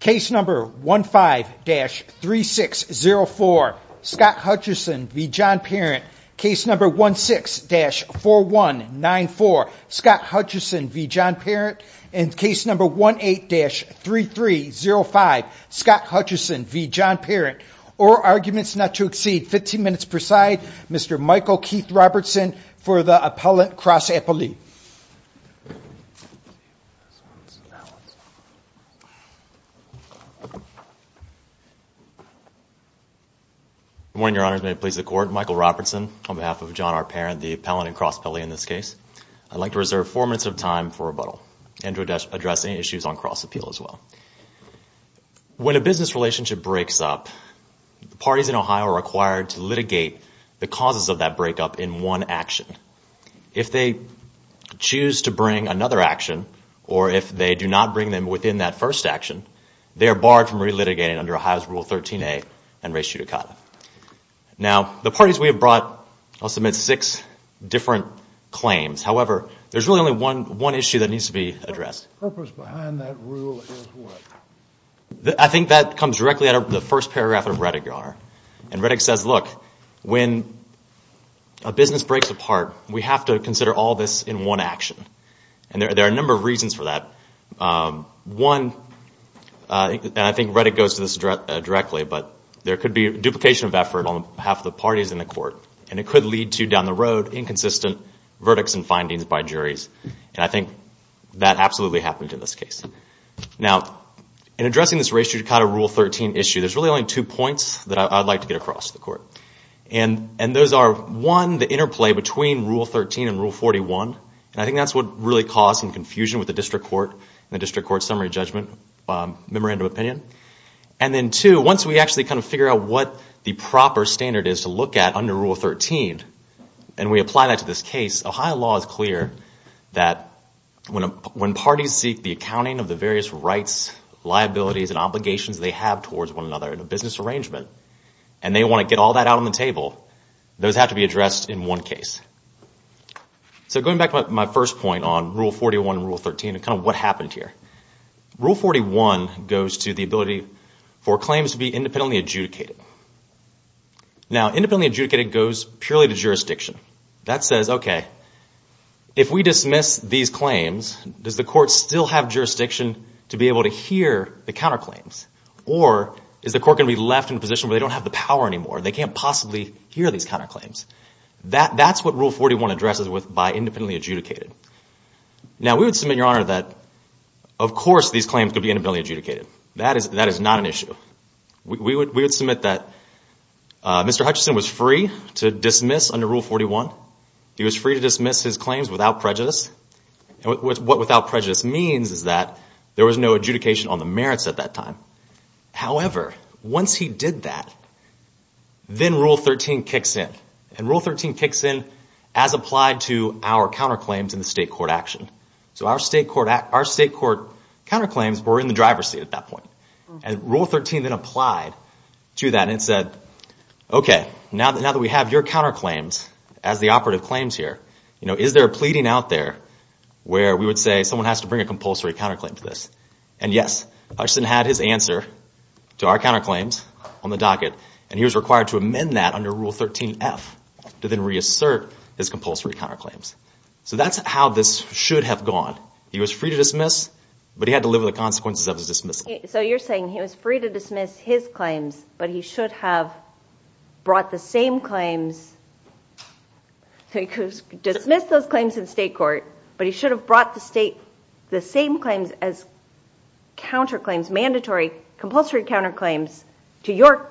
case number 15-3604 Scott Hutchison v. John Parent case number 16-4194 Scott Hutchison v. John Parent and case number 18-3305 Scott Hutchison v. John Parent or arguments not to exceed 15 minutes per side Mr. Michael Keith Robertson for the appellant cross-appellee Good morning your honors may it please the court Michael Robertson on behalf of John R. Parent the appellant and cross-appellee in this case I'd like to reserve four minutes of time for rebuttal and to address any issues on cross appeal as well When a business relationship breaks up parties in Ohio are required to litigate the causes of that breakup in one action if they choose to bring another action or if they do not bring them within that first action they are barred from relitigating under Ohio's rule 13a and res judicata Now the parties we have brought I'll submit six different claims however there's really only one issue that needs to be addressed The purpose behind that rule is what? I think that comes directly out of the first paragraph of Rettigar and Rettig says look when a business breaks apart we have to consider all this in one action and there are a number of reasons for that one and I think Rettig goes to this directly but there could be duplication of effort on behalf of the parties in the court and it could lead to down the road inconsistent verdicts and findings by juries and I think that absolutely happened in this case Now in addressing this res judicata rule 13 issue there's really only two points that I'd like to get across to the court and those are one the interplay between rule 13 and rule 41 and I think that's what really caused some confusion with the district court and the district court summary judgment memorandum opinion and then two once we actually kind of figure out what the proper standard is to look at under rule 13 and we apply that to this case Ohio law is clear that when parties seek the accounting of the various rights, liabilities and obligations they have towards one another in a business arrangement and they want to get all that out on the table those have to be addressed in one case So going back to my first point on rule 41 and rule 13 and kind of what happened here Rule 41 goes to the ability for claims to be independently adjudicated Now independently adjudicated goes purely to jurisdiction that says okay if we dismiss these claims does the court still have jurisdiction to be able to hear the counterclaims or is the court going to be left in a position where they don't have the power anymore they can't possibly hear these counterclaims that's what rule 41 addresses with by independently adjudicated Now we would submit your honor that of course these claims could be independently adjudicated that is not an issue we would submit that Mr. Hutchison was free to dismiss under rule 41 he was free to dismiss his claims without prejudice what without prejudice means is that there was no adjudication on the merits at that time however once he did that then rule 13 kicks in and rule 13 kicks in as applied to our counterclaims in the state court action so our state court counterclaims were in the driver's seat at that point and rule 13 then applied to that and said okay now that we have your counterclaims as the operative claims here is there a pleading out there where we would say someone has to bring a compulsory counterclaim to this and yes Hutchison had his answer to our counterclaims on the docket and he was required to amend that under rule 13 F to then reassert his compulsory counterclaims so that's how this should have gone he was free to dismiss but he had to live with the consequences of his dismissal so you're saying he was free to dismiss his claims but he should have brought the same claims he could dismiss those claims in state court but he should have brought the state the same claims as counterclaims mandatory compulsory counterclaims to your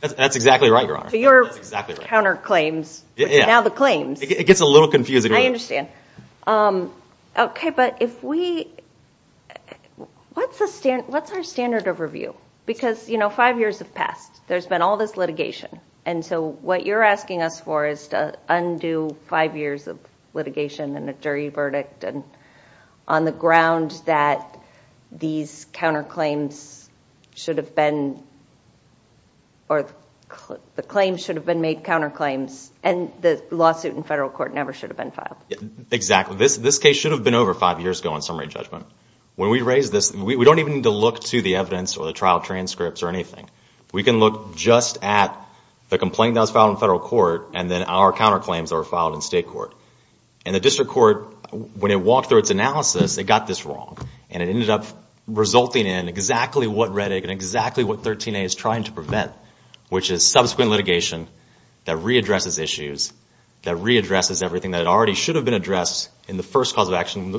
that's exactly right your honor to your counterclaims which are now the claims it gets a little confusing I understand okay but if we what's our standard of review because you know five years have passed there's been all this litigation and so what you're asking us for is to undo five years of litigation and a jury verdict and on the ground that these counterclaims should have been or the claims should have been made counterclaims and the lawsuit in federal court never should have been filed exactly this case should have been over five years ago in summary judgment when we raise this we don't even need to look to the evidence or the trial transcripts or anything we can look just at the complaint that was filed in federal court and then our counterclaims that were filed in state court and the district court when it walked through its analysis it got this wrong and it ended up resulting in exactly what Rettig and exactly what 13A is trying to prevent which is subsequent litigation that readdresses issues that readdresses everything that already should have been addressed in the first cause of action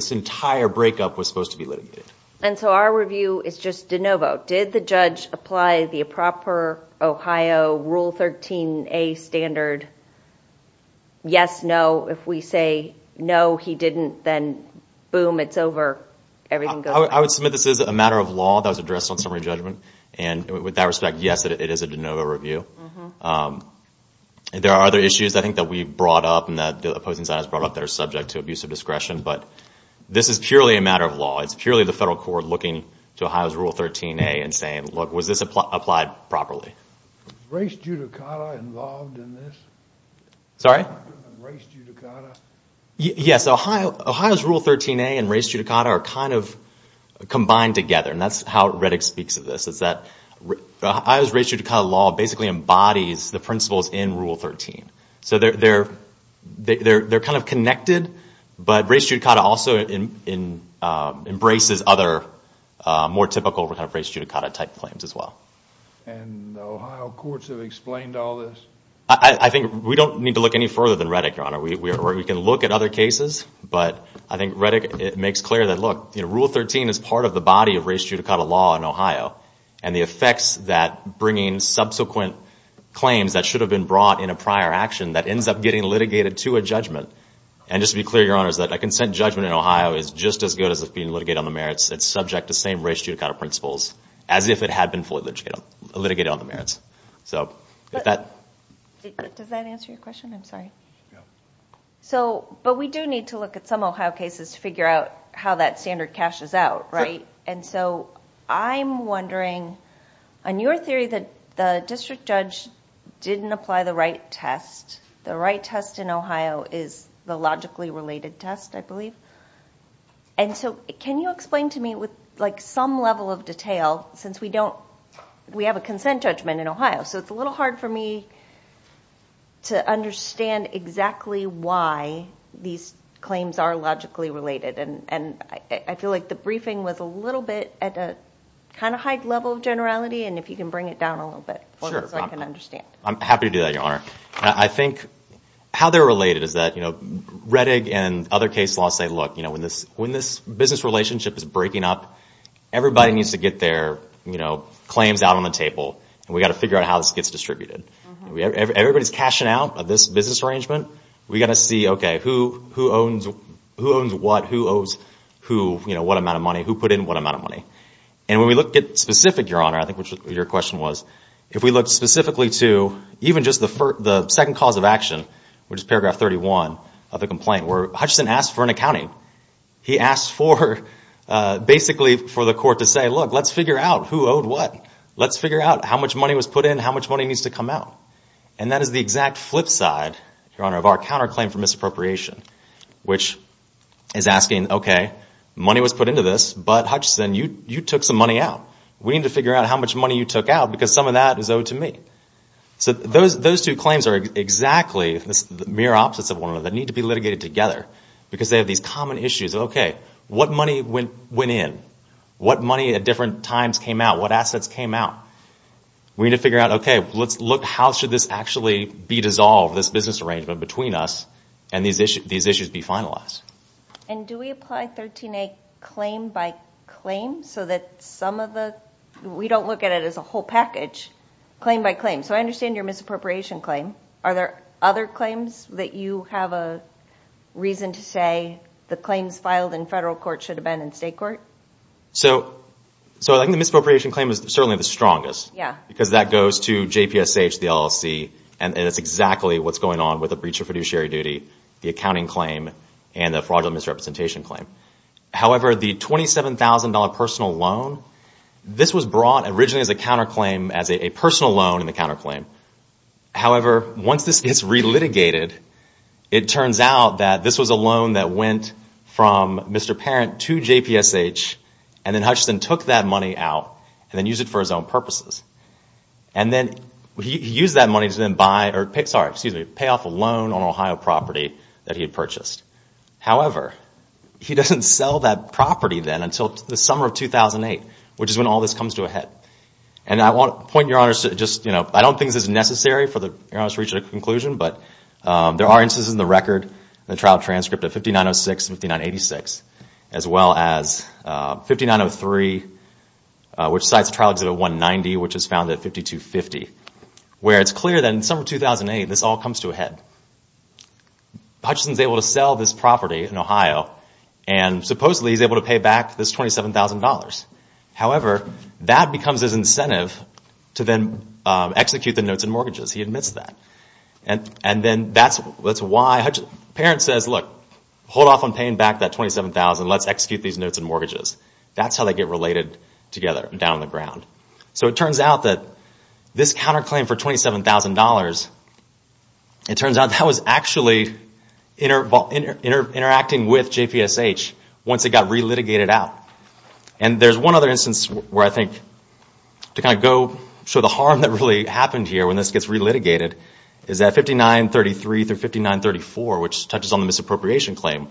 this entire breakup was supposed to be litigated and so our review is just de novo did the judge apply the proper Ohio Rule 13A standard yes no if we say no he didn't then boom it's over I would submit this is a matter of law that was addressed on summary judgment and with that respect yes it is a de novo review there are other issues I think that we brought up and that the opposing side has brought up that are subject to abuse of discretion but this is purely a matter of law it's purely the federal court looking to Ohio's Rule 13A and saying look was this applied properly Was race judicata involved in this? Sorry? Race judicata? Yes Ohio's Rule 13A and race judicata are kind of combined together and that's how Rettig speaks of this is that Ohio's race judicata law basically embodies the principles in Rule 13 so they're kind of connected but race judicata also embraces other more typical race judicata type claims as well And the Ohio courts have explained all this? I think we don't need to look any further than Rettig your honor we can look at other cases but I think Rettig makes clear that look Rule 13 is part of the body of race judicata law in Ohio and the effects that bringing subsequent claims that should have been brought in a prior action that ends up getting litigated to a judgment and just to be clear your honors that a consent judgment in Ohio is just as good as being litigated on the merits it's subject to same race judicata principles as if it had been fully litigated on the merits Does that answer your question? I'm sorry. So, but we do need to look at some Ohio cases to figure out how that standard cashes out, right? And so I'm wondering on your theory that the district judge didn't apply the right test the right test in Ohio is the logically related test I believe and so can you explain to me with like some level of detail since we don't, we have a consent judgment in Ohio so it's a little hard for me to understand exactly why these claims are logically related and I feel like the briefing was a little bit at a kind of high level of generality and if you can bring it down a little bit Sure. I'm happy to do that your honor. I think how they're related is that you know Rettig and other case laws say look when this business relationship is breaking up everybody needs to get their claims out on the table and we've got to figure out how this gets distributed everybody's cashing out of this business arrangement we've got to see, okay, who owns what who owes who, you know, what amount of money who put in what amount of money and when we look at specific, your honor I think your question was if we look specifically to even just the second cause of action which is paragraph 31 of the complaint where Hutchison asked for an accounting he asked for basically for the court to say look, let's figure out who owed what let's figure out how much money was put in how much money needs to come out and that is the exact flip side, your honor of our counterclaim for misappropriation which is asking, okay, money was put into this but Hutchison, you took some money out we need to figure out how much money you took out because some of that is owed to me so those two claims are exactly mirror opposites of one another they need to be litigated together because they have these common issues okay, what money went in what money at different times came out what assets came out we need to figure out, okay how should this actually be dissolved this business arrangement between us and these issues be finalized and do we apply 13A claim by claim so that some of the we don't look at it as a whole package claim by claim so I understand your misappropriation claim are there other claims that you have a reason to say the claims filed in federal court should have been in state court so I think the misappropriation claim is certainly the strongest because that goes to JPSH, the LLC and that's exactly what's going on with the breach of fiduciary duty the accounting claim and the fraudulent misrepresentation claim however, the $27,000 personal loan this was brought originally as a counterclaim as a personal loan in the counterclaim it turns out that this was a loan that went from Mr. Parent to JPSH and then Hutchison took that money out and then used it for his own purposes and then he used that money to then buy pay off a loan on an Ohio property that he had purchased however, he doesn't sell that property then until the summer of 2008 which is when all this comes to a head and I want to point your honors I don't think this is necessary for your honors to reach a conclusion but there are instances in the record the trial transcript of 5906 and 5986 as well as 5903 which cites the trial exhibit 190 which is found at 5250 where it's clear that in the summer of 2008 this all comes to a head Hutchison's able to sell this property in Ohio and supposedly he's able to pay back this $27,000 however, that becomes his incentive to then execute the notes and mortgages he admits that and then that's why Hutchison's parent says look, hold off on paying back that $27,000 let's execute these notes and mortgages that's how they get related together down on the ground so it turns out that this counterclaim for $27,000 it turns out that was actually interacting with JPSH once it got re-litigated out and there's one other instance where I think to kind of go show the harm that really happened here when this gets re-litigated is at 5933 through 5934 which touches on the misappropriation claim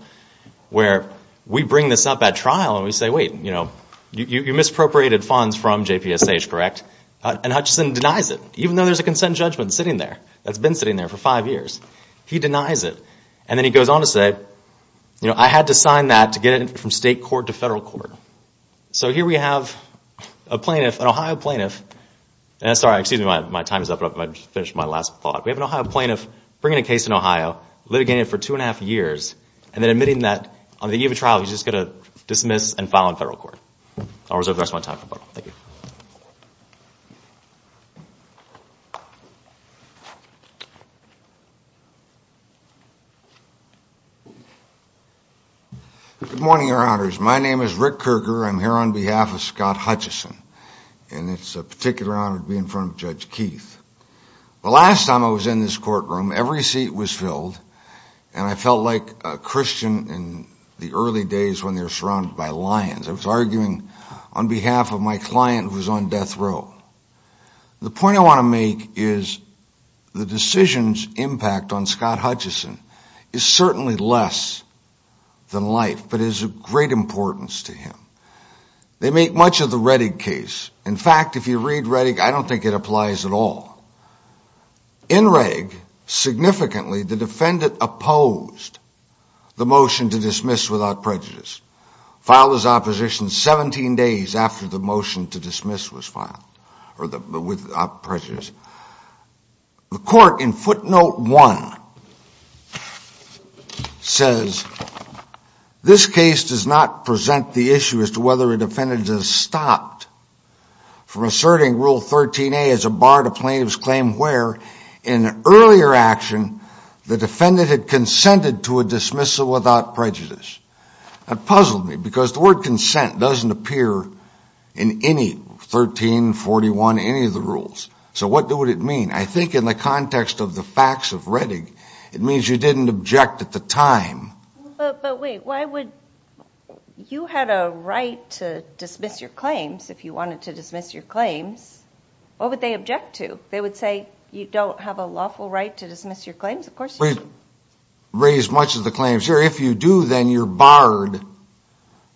where we bring this up at trial and we say wait, you know you misappropriated funds from JPSH, correct? and Hutchison denies it even though there's a consent judgment sitting there that's been sitting there for 5 years he denies it and then he goes on to say I had to sign that to get it from state court to federal court so here we have a plaintiff, an Ohio plaintiff excuse me, my time is up I just finished my last thought we have an Ohio plaintiff bringing a case in Ohio litigating it for two and a half years and then admitting that on the eve of trial he's just going to dismiss and file in federal court I'll reserve the rest of my time for the public, thank you Good morning, your honors my name is Rick Kerger I'm here on behalf of Scott Hutchison and it's a particular honor to be in front of Judge Keith the last time I was in this courtroom every seat was filled and I felt like a Christian in the early days when they were surrounded by lions I was arguing on behalf of my client who was on death row the point I want to make is the decision's impact on Scott Hutchison is certainly less than life but it is of great importance to him they make much of the Rettig case in fact, if you read Rettig I don't think it applies at all in Rettig significantly, the defendant opposed the motion to dismiss without prejudice filed his opposition 17 days after the motion to dismiss was filed without prejudice the court in footnote one says this case does not present the issue as to whether a defendant has stopped from asserting rule 13A as a bar to plaintiff's claim where in earlier action the defendant had consented to a dismissal without prejudice that puzzled me because the word consent doesn't appear in any 13, 41, any of the rules so what would it mean? I think in the context of the facts of Rettig it means you didn't object at the time but wait, why would you had a right to dismiss your claims if you wanted to dismiss your claims what would they object to? they would say you don't have a lawful right to dismiss your claims of course you do we've raised much of the claims here if you do then you're barred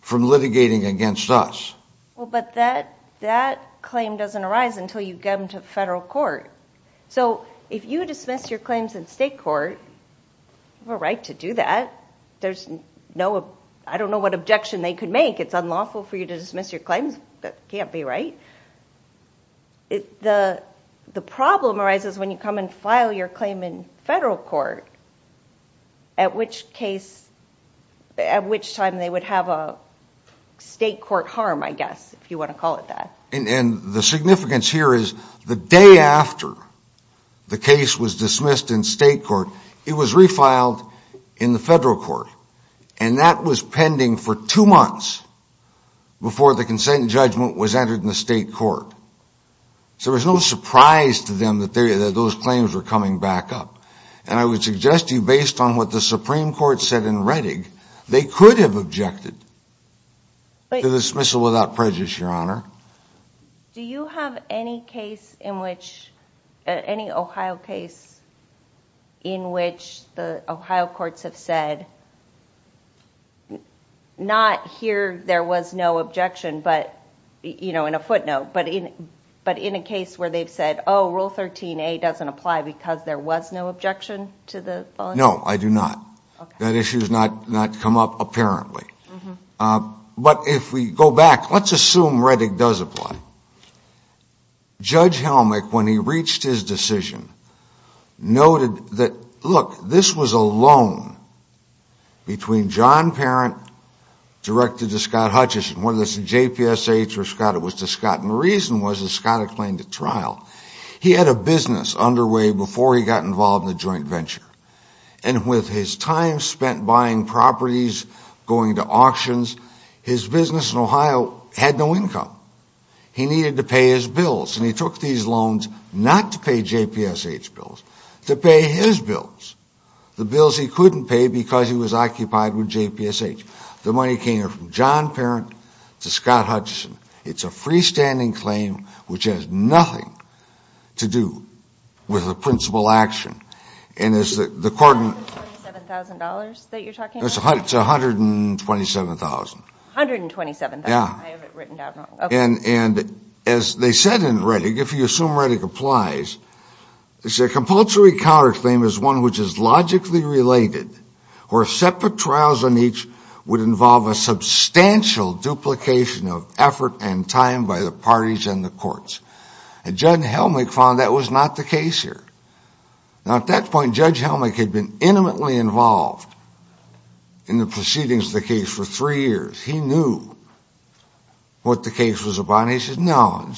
from litigating against us well but that that claim doesn't arise until you get them to federal court so if you dismiss your claims in state court you have a right to do that there's no I don't know what objection they could make it's unlawful for you to dismiss your claims that can't be right the problem arises when you come and file your claim in federal court at which case at which time they would have a state court harm I guess if you want to call it that and the significance here is the day after the case was dismissed in state court it was refiled in the federal court and that was pending for two months before the consent and judgment was entered in the state court so it was no surprise to them that those claims were coming back up and I would suggest to you based on what the Supreme Court said in Rettig they could have objected to dismissal without prejudice your honor do you have any case in which any Ohio case in which the Ohio courts have said not here there was no objection but you know in a footnote but in a case where they've said oh rule 13a doesn't apply because there was no objection to the law no I do not that issue has not come up apparently but if we go back let's assume Rettig does apply Judge Helmick when he reached his decision noted that look this was a loan between John Parent directed to Scott Hutchison whether it was to JPSH or Scott it was to Scott and the reason was that Scott had claimed at trial he had a business underway before he got involved in the joint venture and with his time spent buying properties going to auctions his business in Ohio had no income he needed to pay his bills and he took these loans not to pay JPSH bills to pay his bills the bills he couldn't pay because he was occupied with JPSH the money came from John Parent to Scott Hutchison it's a freestanding claim which has nothing to do with the principal action and as the court $127,000 that you're talking about it's $127,000 $127,000 yeah and as they said in Reddick if you assume Reddick applies it's a compulsory counterclaim is one which is logically related where separate trials on each would involve a substantial duplication of effort and time by the parties and the courts and Judge Helmick found that was not the case here now at that point Judge Helmick had been intimately involved in the proceedings of the case for three years he knew what the case was about and he said no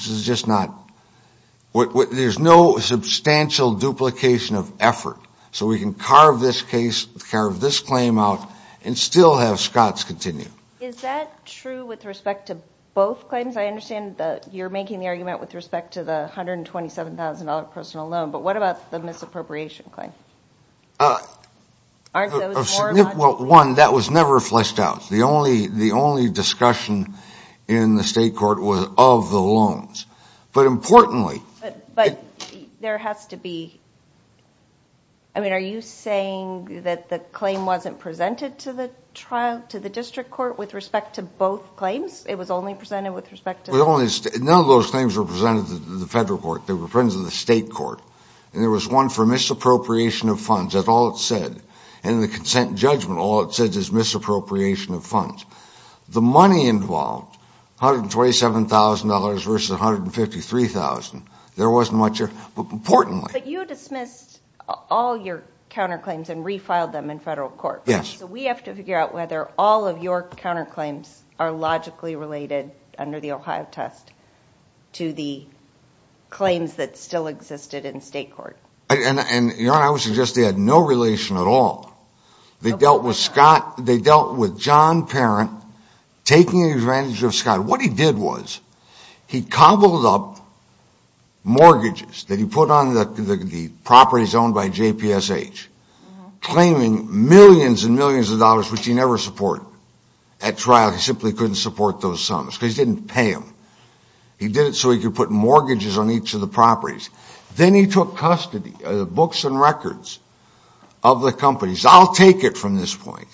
there's no substantial duplication of effort so we can carve this case carve this claim out and still have Scott's continue is that true with respect to both claims? I understand that you're making the argument with respect to the $127,000 personal loan but what about the misappropriation claim? uh well one that was never fleshed out the only discussion in the state court was of the loans but importantly there has to be I mean are you saying that the claim wasn't presented to the district court with respect to both claims? it was only presented with respect to none of those things were presented to the federal court they were presented to the state court and there was one for misappropriation of funds that's all it said and the consent judgment all it said is misappropriation of funds the money involved $127,000 versus $153,000 there wasn't much importantly but you dismissed all your counterclaims and refiled them in federal court so we have to figure out whether all of your counterclaims are logically related under the Ohio test to the and your honor I would suggest they had no relation at all they dealt with Scott they dealt with John Parent taking advantage of Scott what he did was he cobbled up mortgages that he put on the properties owned by JPSH claiming millions and millions of dollars which he never supported at trial he simply couldn't support those sums because he didn't pay them he did it so he could put mortgages on each of the properties then he took custody of the books and records of the companies I'll take it from this point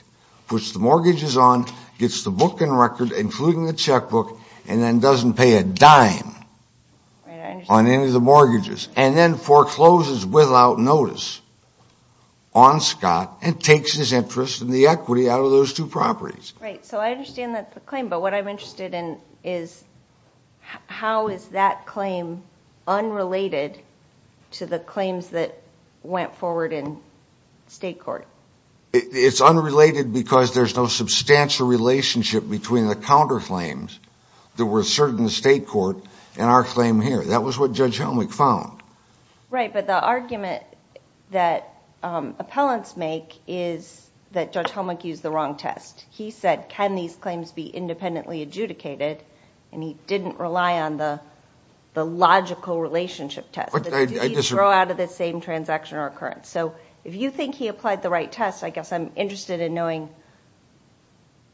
puts the mortgages on gets the book and record including the checkbook and then doesn't pay a dime on any of the mortgages and then forecloses without notice on Scott and takes his interest and the equity out of those two properties right so I understand that claim but what I'm interested in is how is that claim unrelated to the claims that went forward in state court it's unrelated because there's no substantial relationship between the counterclaims that were asserted in the state court and our claim here that was what Judge Helmick found right but the argument that appellants make is that Judge Helmick used the wrong test he said can these claims be independently adjudicated and he didn't rely on the logical relationship test did he throw out of the same transaction or occurrence so if you think he applied the right test I guess I'm interested in knowing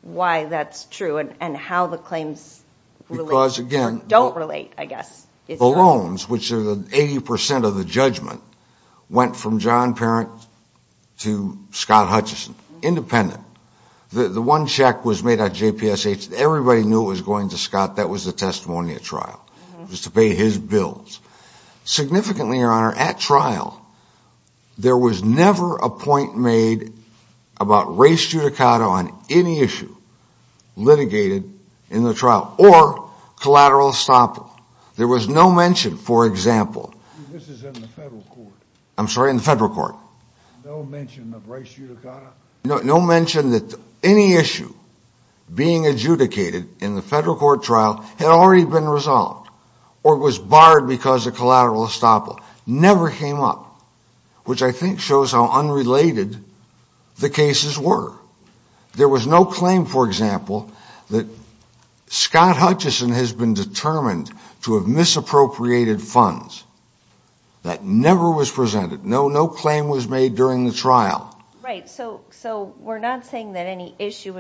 why that's true and how the claims relate or don't relate I guess the loans which are the 80% of the judgment went from John Parent to Scott Hutchison independent the one check was made at JPSH everybody knew it was going to Scott that was the testimony at trial just to pay his bills significantly your honor at trial there was never a point made about race judicata on any issue litigated in the trial or collateral estoppel there was no mention for example this is in the federal court I'm sorry in the federal court no mention of race judicata no mention that any issue being adjudicated in the federal court trial had already been resolved or was barred because of collateral estoppel never came up which I think shows how unrelated the cases were there was no claim for example that Scott Hutchison has been determined to have misappropriated funds that never was presented no claim was made during the trial so we're not saying that any issue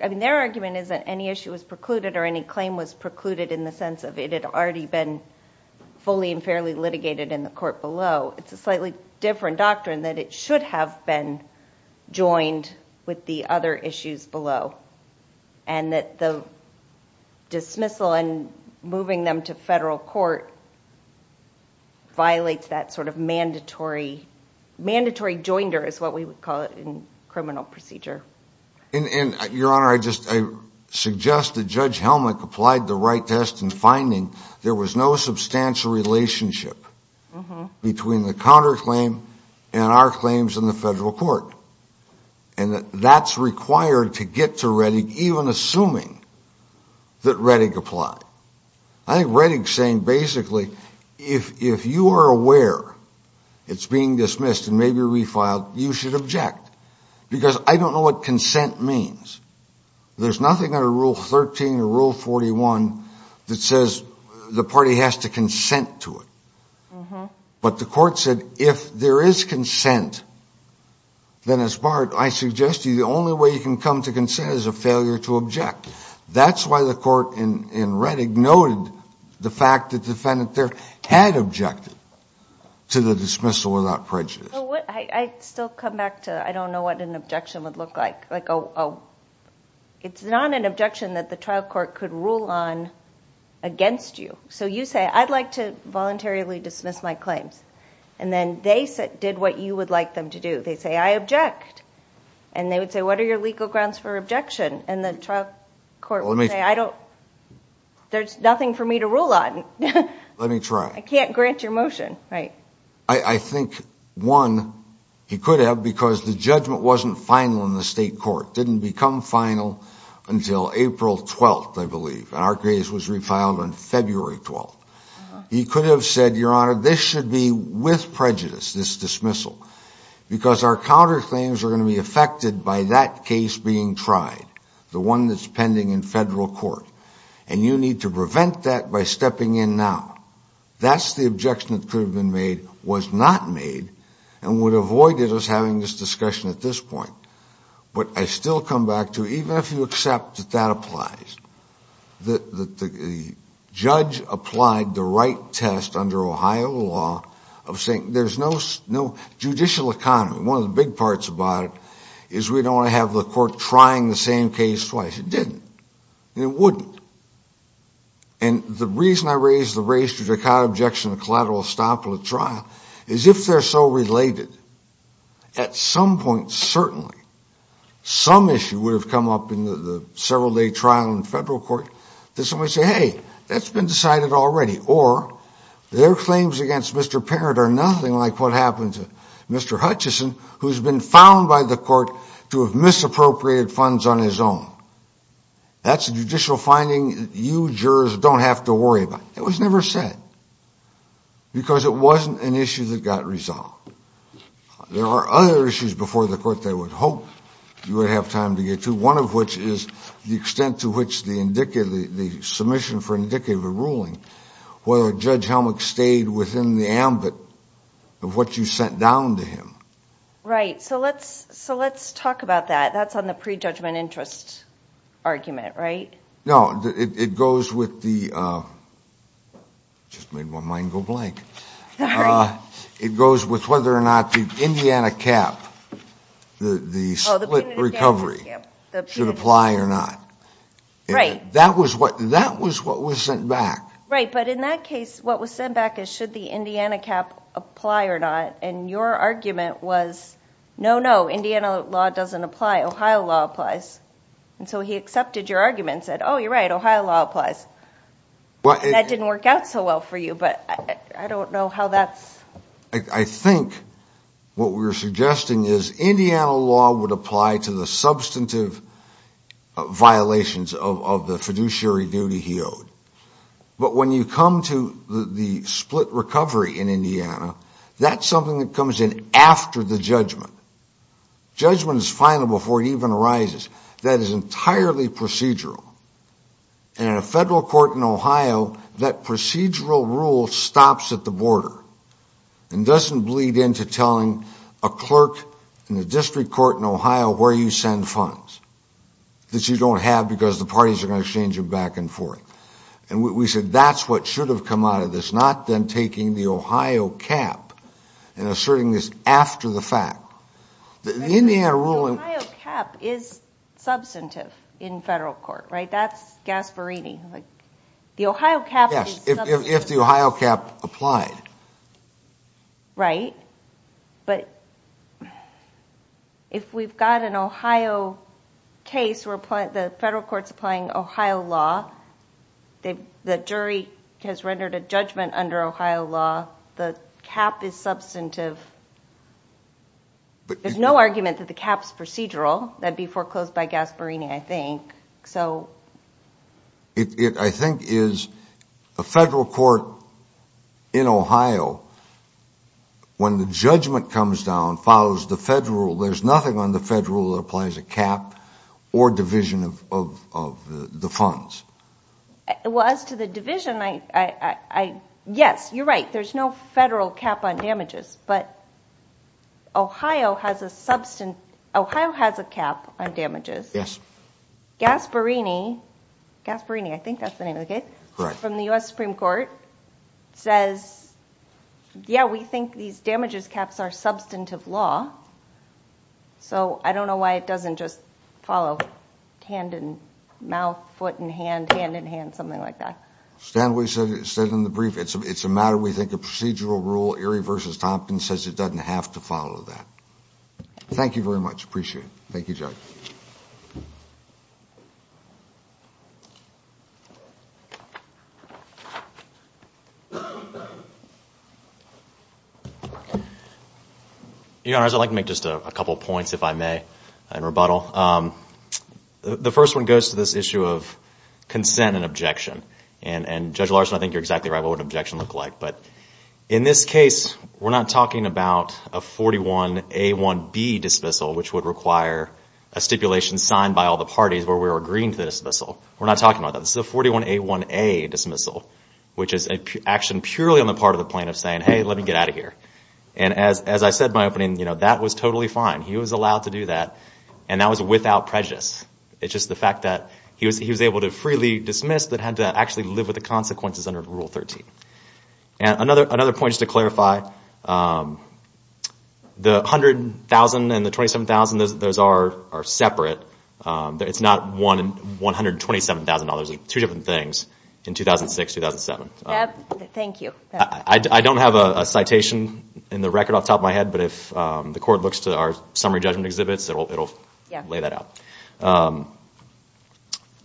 I mean their argument is that any issue was precluded or any claim was precluded in the sense of it had already been fully and fairly litigated in the court below it's a slightly different doctrine that it should have been joined with the other issues below and that the dismissal and moving them to federal court violates that sort of mandatory mandatory joinder is what we would call it in criminal procedure and your honor I just suggest that Judge Helmick applied the right test in finding there was no substantial relationship between the counterclaim and our claims in the federal court and that's required to get to Reddick even assuming that Reddick applied I think Reddick's saying basically if you are aware it's being dismissed and maybe refiled you should object because I don't know what consent means there's nothing under rule 13 or rule 41 that says the party has to consent to it but the court said if there is consent then as part I suggest you the only way you can come to consent is a failure to object that's why the court in Reddick noted the fact that the defendant there had objected to the dismissal without prejudice I still come back to I don't know what an objection would look like it's not an objection that the trial court could rule on against you so you say I'd like to voluntarily dismiss my claims and then they did what you would like them to do they say I object and they would say what are your legal grounds for objection and the trial court would say there's nothing for me to I can't grant your motion I think one he could have because the judgment wasn't final in the state court didn't become final until April 12th I believe our case was refiled on February 12th he could have said your honor this should be with prejudice this dismissal because our counterclaims are going to be affected by that case being tried the one that's pending in federal court and you need to prevent that by stepping in now that's the objection that could have been made was not made and would avoid us having this discussion at this point but I still come back to even if you accept that that applies the judge applied the right test under Ohio law of saying there's no judicial economy one of the big parts about it is we don't want to have the court trying the same case twice it didn't it wouldn't and the reason I raised the race to Dakota objection collateral estopel at trial is if they're so related at some point certainly some issue would have come up in the several day trial in federal court that somebody say hey that's been decided already or their claims against Mr. Parent are nothing like what happened to Mr. Hutchison who's been found by the court to have misappropriated funds on his own that's a judicial finding you jurors don't have to worry about it was never said because it wasn't an issue that got resolved there are other issues before the court they would hope you would have time to get to one of which is the extent to which the indicative the submission for indicative of ruling whether Judge Helmick stayed within the ambit of what you sent down to him right so let's so let's talk about that that's on the prejudgment interest argument right no it goes with the just made my mind go blank it goes with whether or not the Indiana cap the split recovery should apply or not that was what that was what was sent back right but in that case what was sent back is should the Indiana cap apply or not and your argument was no no Ohio law applies and so he accepted your argument said oh you're right Ohio law applies that didn't work out so well for you but I don't know how that's I think what we're suggesting is Indiana law would apply to the substantive violations of the fiduciary duty he owed but when you come to the split recovery in Indiana that's something that comes in after the judgment judgment is final before it even arises that is entirely procedural and in a federal court in Ohio that procedural rule stops at the border and doesn't bleed into telling a clerk in the district court in Ohio where you send funds that you don't have because the parties are going to exchange them back and forth and we said that's what should have come out of this not them taking the Ohio cap and asserting this after the fact the Indiana ruling cap is substantive in federal court right that's Gasparini like the Ohio cap yes if the Ohio cap applied right but if we've got an Ohio case where the federal court's applying Ohio law the jury has rendered a judgment under Ohio law the cap is substantive there's no argument that the cap's procedural that'd be foreclosed by Gasparini I think so it I think is a federal court in Ohio when the judgment comes down follows the federal there's nothing on the federal that applies a cap or division of the funds well as to the division I I yes you're right there's no federal cap on damages but Ohio has a substance Ohio has a cap on damages yes Gasparini Gasparini I think that's the name of the case from the US Supreme Court says yeah we think these damages caps are substantive law so I don't know why it doesn't just follow hand and mouth foot and hand hand and hand something like that said in the brief it's a matter we think of procedural rule Erie v. Tompkins says it doesn't have to follow that thank you very much appreciate it thank you Judge your honors I'd like to make just a couple points if I may in rebuttal the first one goes to this objection and Judge Larson I think you're exactly right what would an objection look like in this case we're not talking about a 41A1B dismissal which would require a stipulation signed by all the parties where we were agreeing to the dismissal we're not talking about that this is a 41A1A dismissal which is an action purely on the part of the plaintiff saying hey let me get out of here and as I said in my opening that was totally fine he was allowed to do that and that was without prejudice it's just the fact that he was able to freely dismiss that had to actually live with the consequences under Rule 13 another point just to clarify the $100,000 and the $27,000 those are separate it's not $127,000 two different things in 2006 2007 thank you I don't have a citation in the record off the top of my head but if the court looks to our summary judgment exhibits it'll lay that out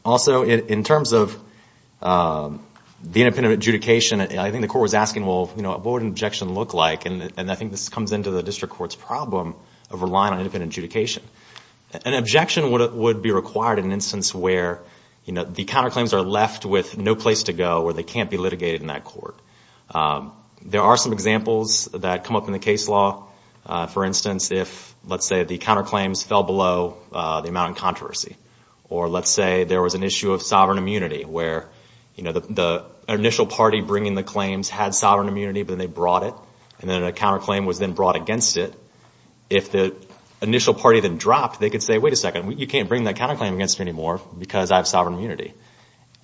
also in terms of the independent adjudication I think the court was asking well what would an objection look like and I think this comes into the district court's problem of relying on independent adjudication an objection would be required in an instance where the counter claims are left with no place to go where they can't be litigated in that court there are some examples that come up in the case law for instance if let's say the counter claims fell below the amount of sovereign controversy or let's say there was an issue of sovereign immunity where the initial party bringing the claims had sovereign immunity but then they brought it and then a counter claim was then brought against it if the initial party then dropped they could say wait a second you can't bring that counter claim against me anymore because I have sovereign immunity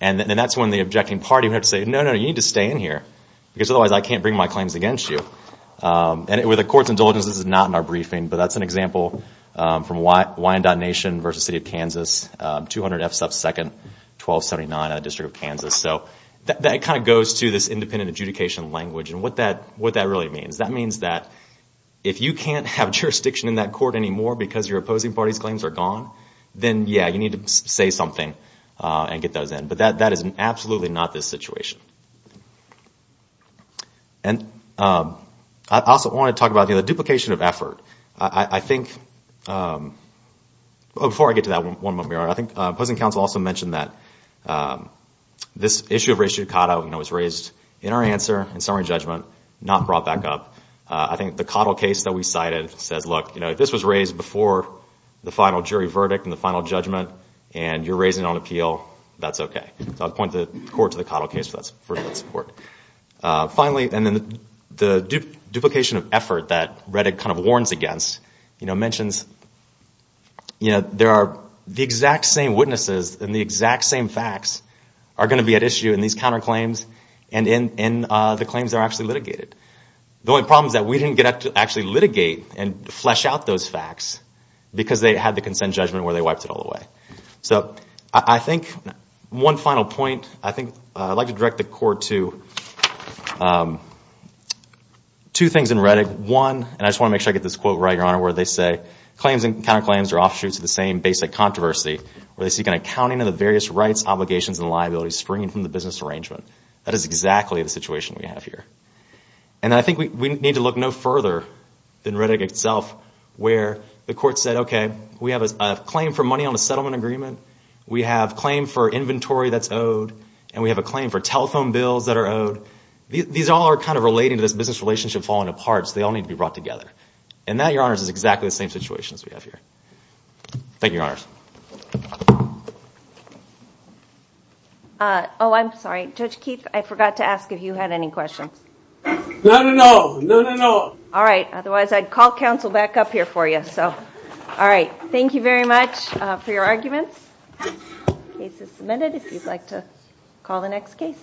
and then that's when the objecting party would have to say no no you need to stay in here because otherwise I can't bring my claims against you and with the court's indulgence this is not in our briefing but that's an example from Wyandotte Nation versus the City of Kansas 200 F 2nd 1279 District of Kansas that kind of goes to this independent adjudication language and what that really means that means that if you can't have jurisdiction in that court anymore because your opposing party's claims are gone then yeah you need to say something and get those in but that is absolutely not this situation I also want to talk about the duplication of effort I think before I get to that I think opposing counsel also mentioned that this issue of race judicata was raised in our answer in summary judgment not brought back up I think the Cottle case that we cited says look if this was raised before the final jury verdict and the final judgment and you're raising it on appeal that's okay I'll point the court to the Cottle case finally and then the duplication of effort that Redick kind of warns against mentions there are the exact same witnesses and the exact same facts are going to be at issue in these counterclaims and in the claims that are actually litigated the only problem is that we didn't get to actually litigate and flesh out those facts because they had the consent judgment where they wiped it all away I think one final point I'd like to direct the court to two things in Redick one and I just want to make sure I get this quote right where they say claims and counterclaims are offshoots of the same basic controversy where they seek an accounting of the various rights obligations and liabilities springing from the business arrangement that is exactly the situation we have here and I think we need to look no further than Redick itself where the court said okay we have a claim for money on a settlement agreement we have claim for inventory that's owed and we have a claim for telephone bills that are owed. These all are kind of relating to this business relationship falling apart so they all need to be brought together and that your honors is exactly the same situation as we have here Thank you your honors Oh I'm sorry Judge Keith I forgot to ask if you had any questions. No no no no no no. Alright otherwise I'd call counsel back up here for you so alright thank you very much for your arguments Case is submitted if you'd like to call the next case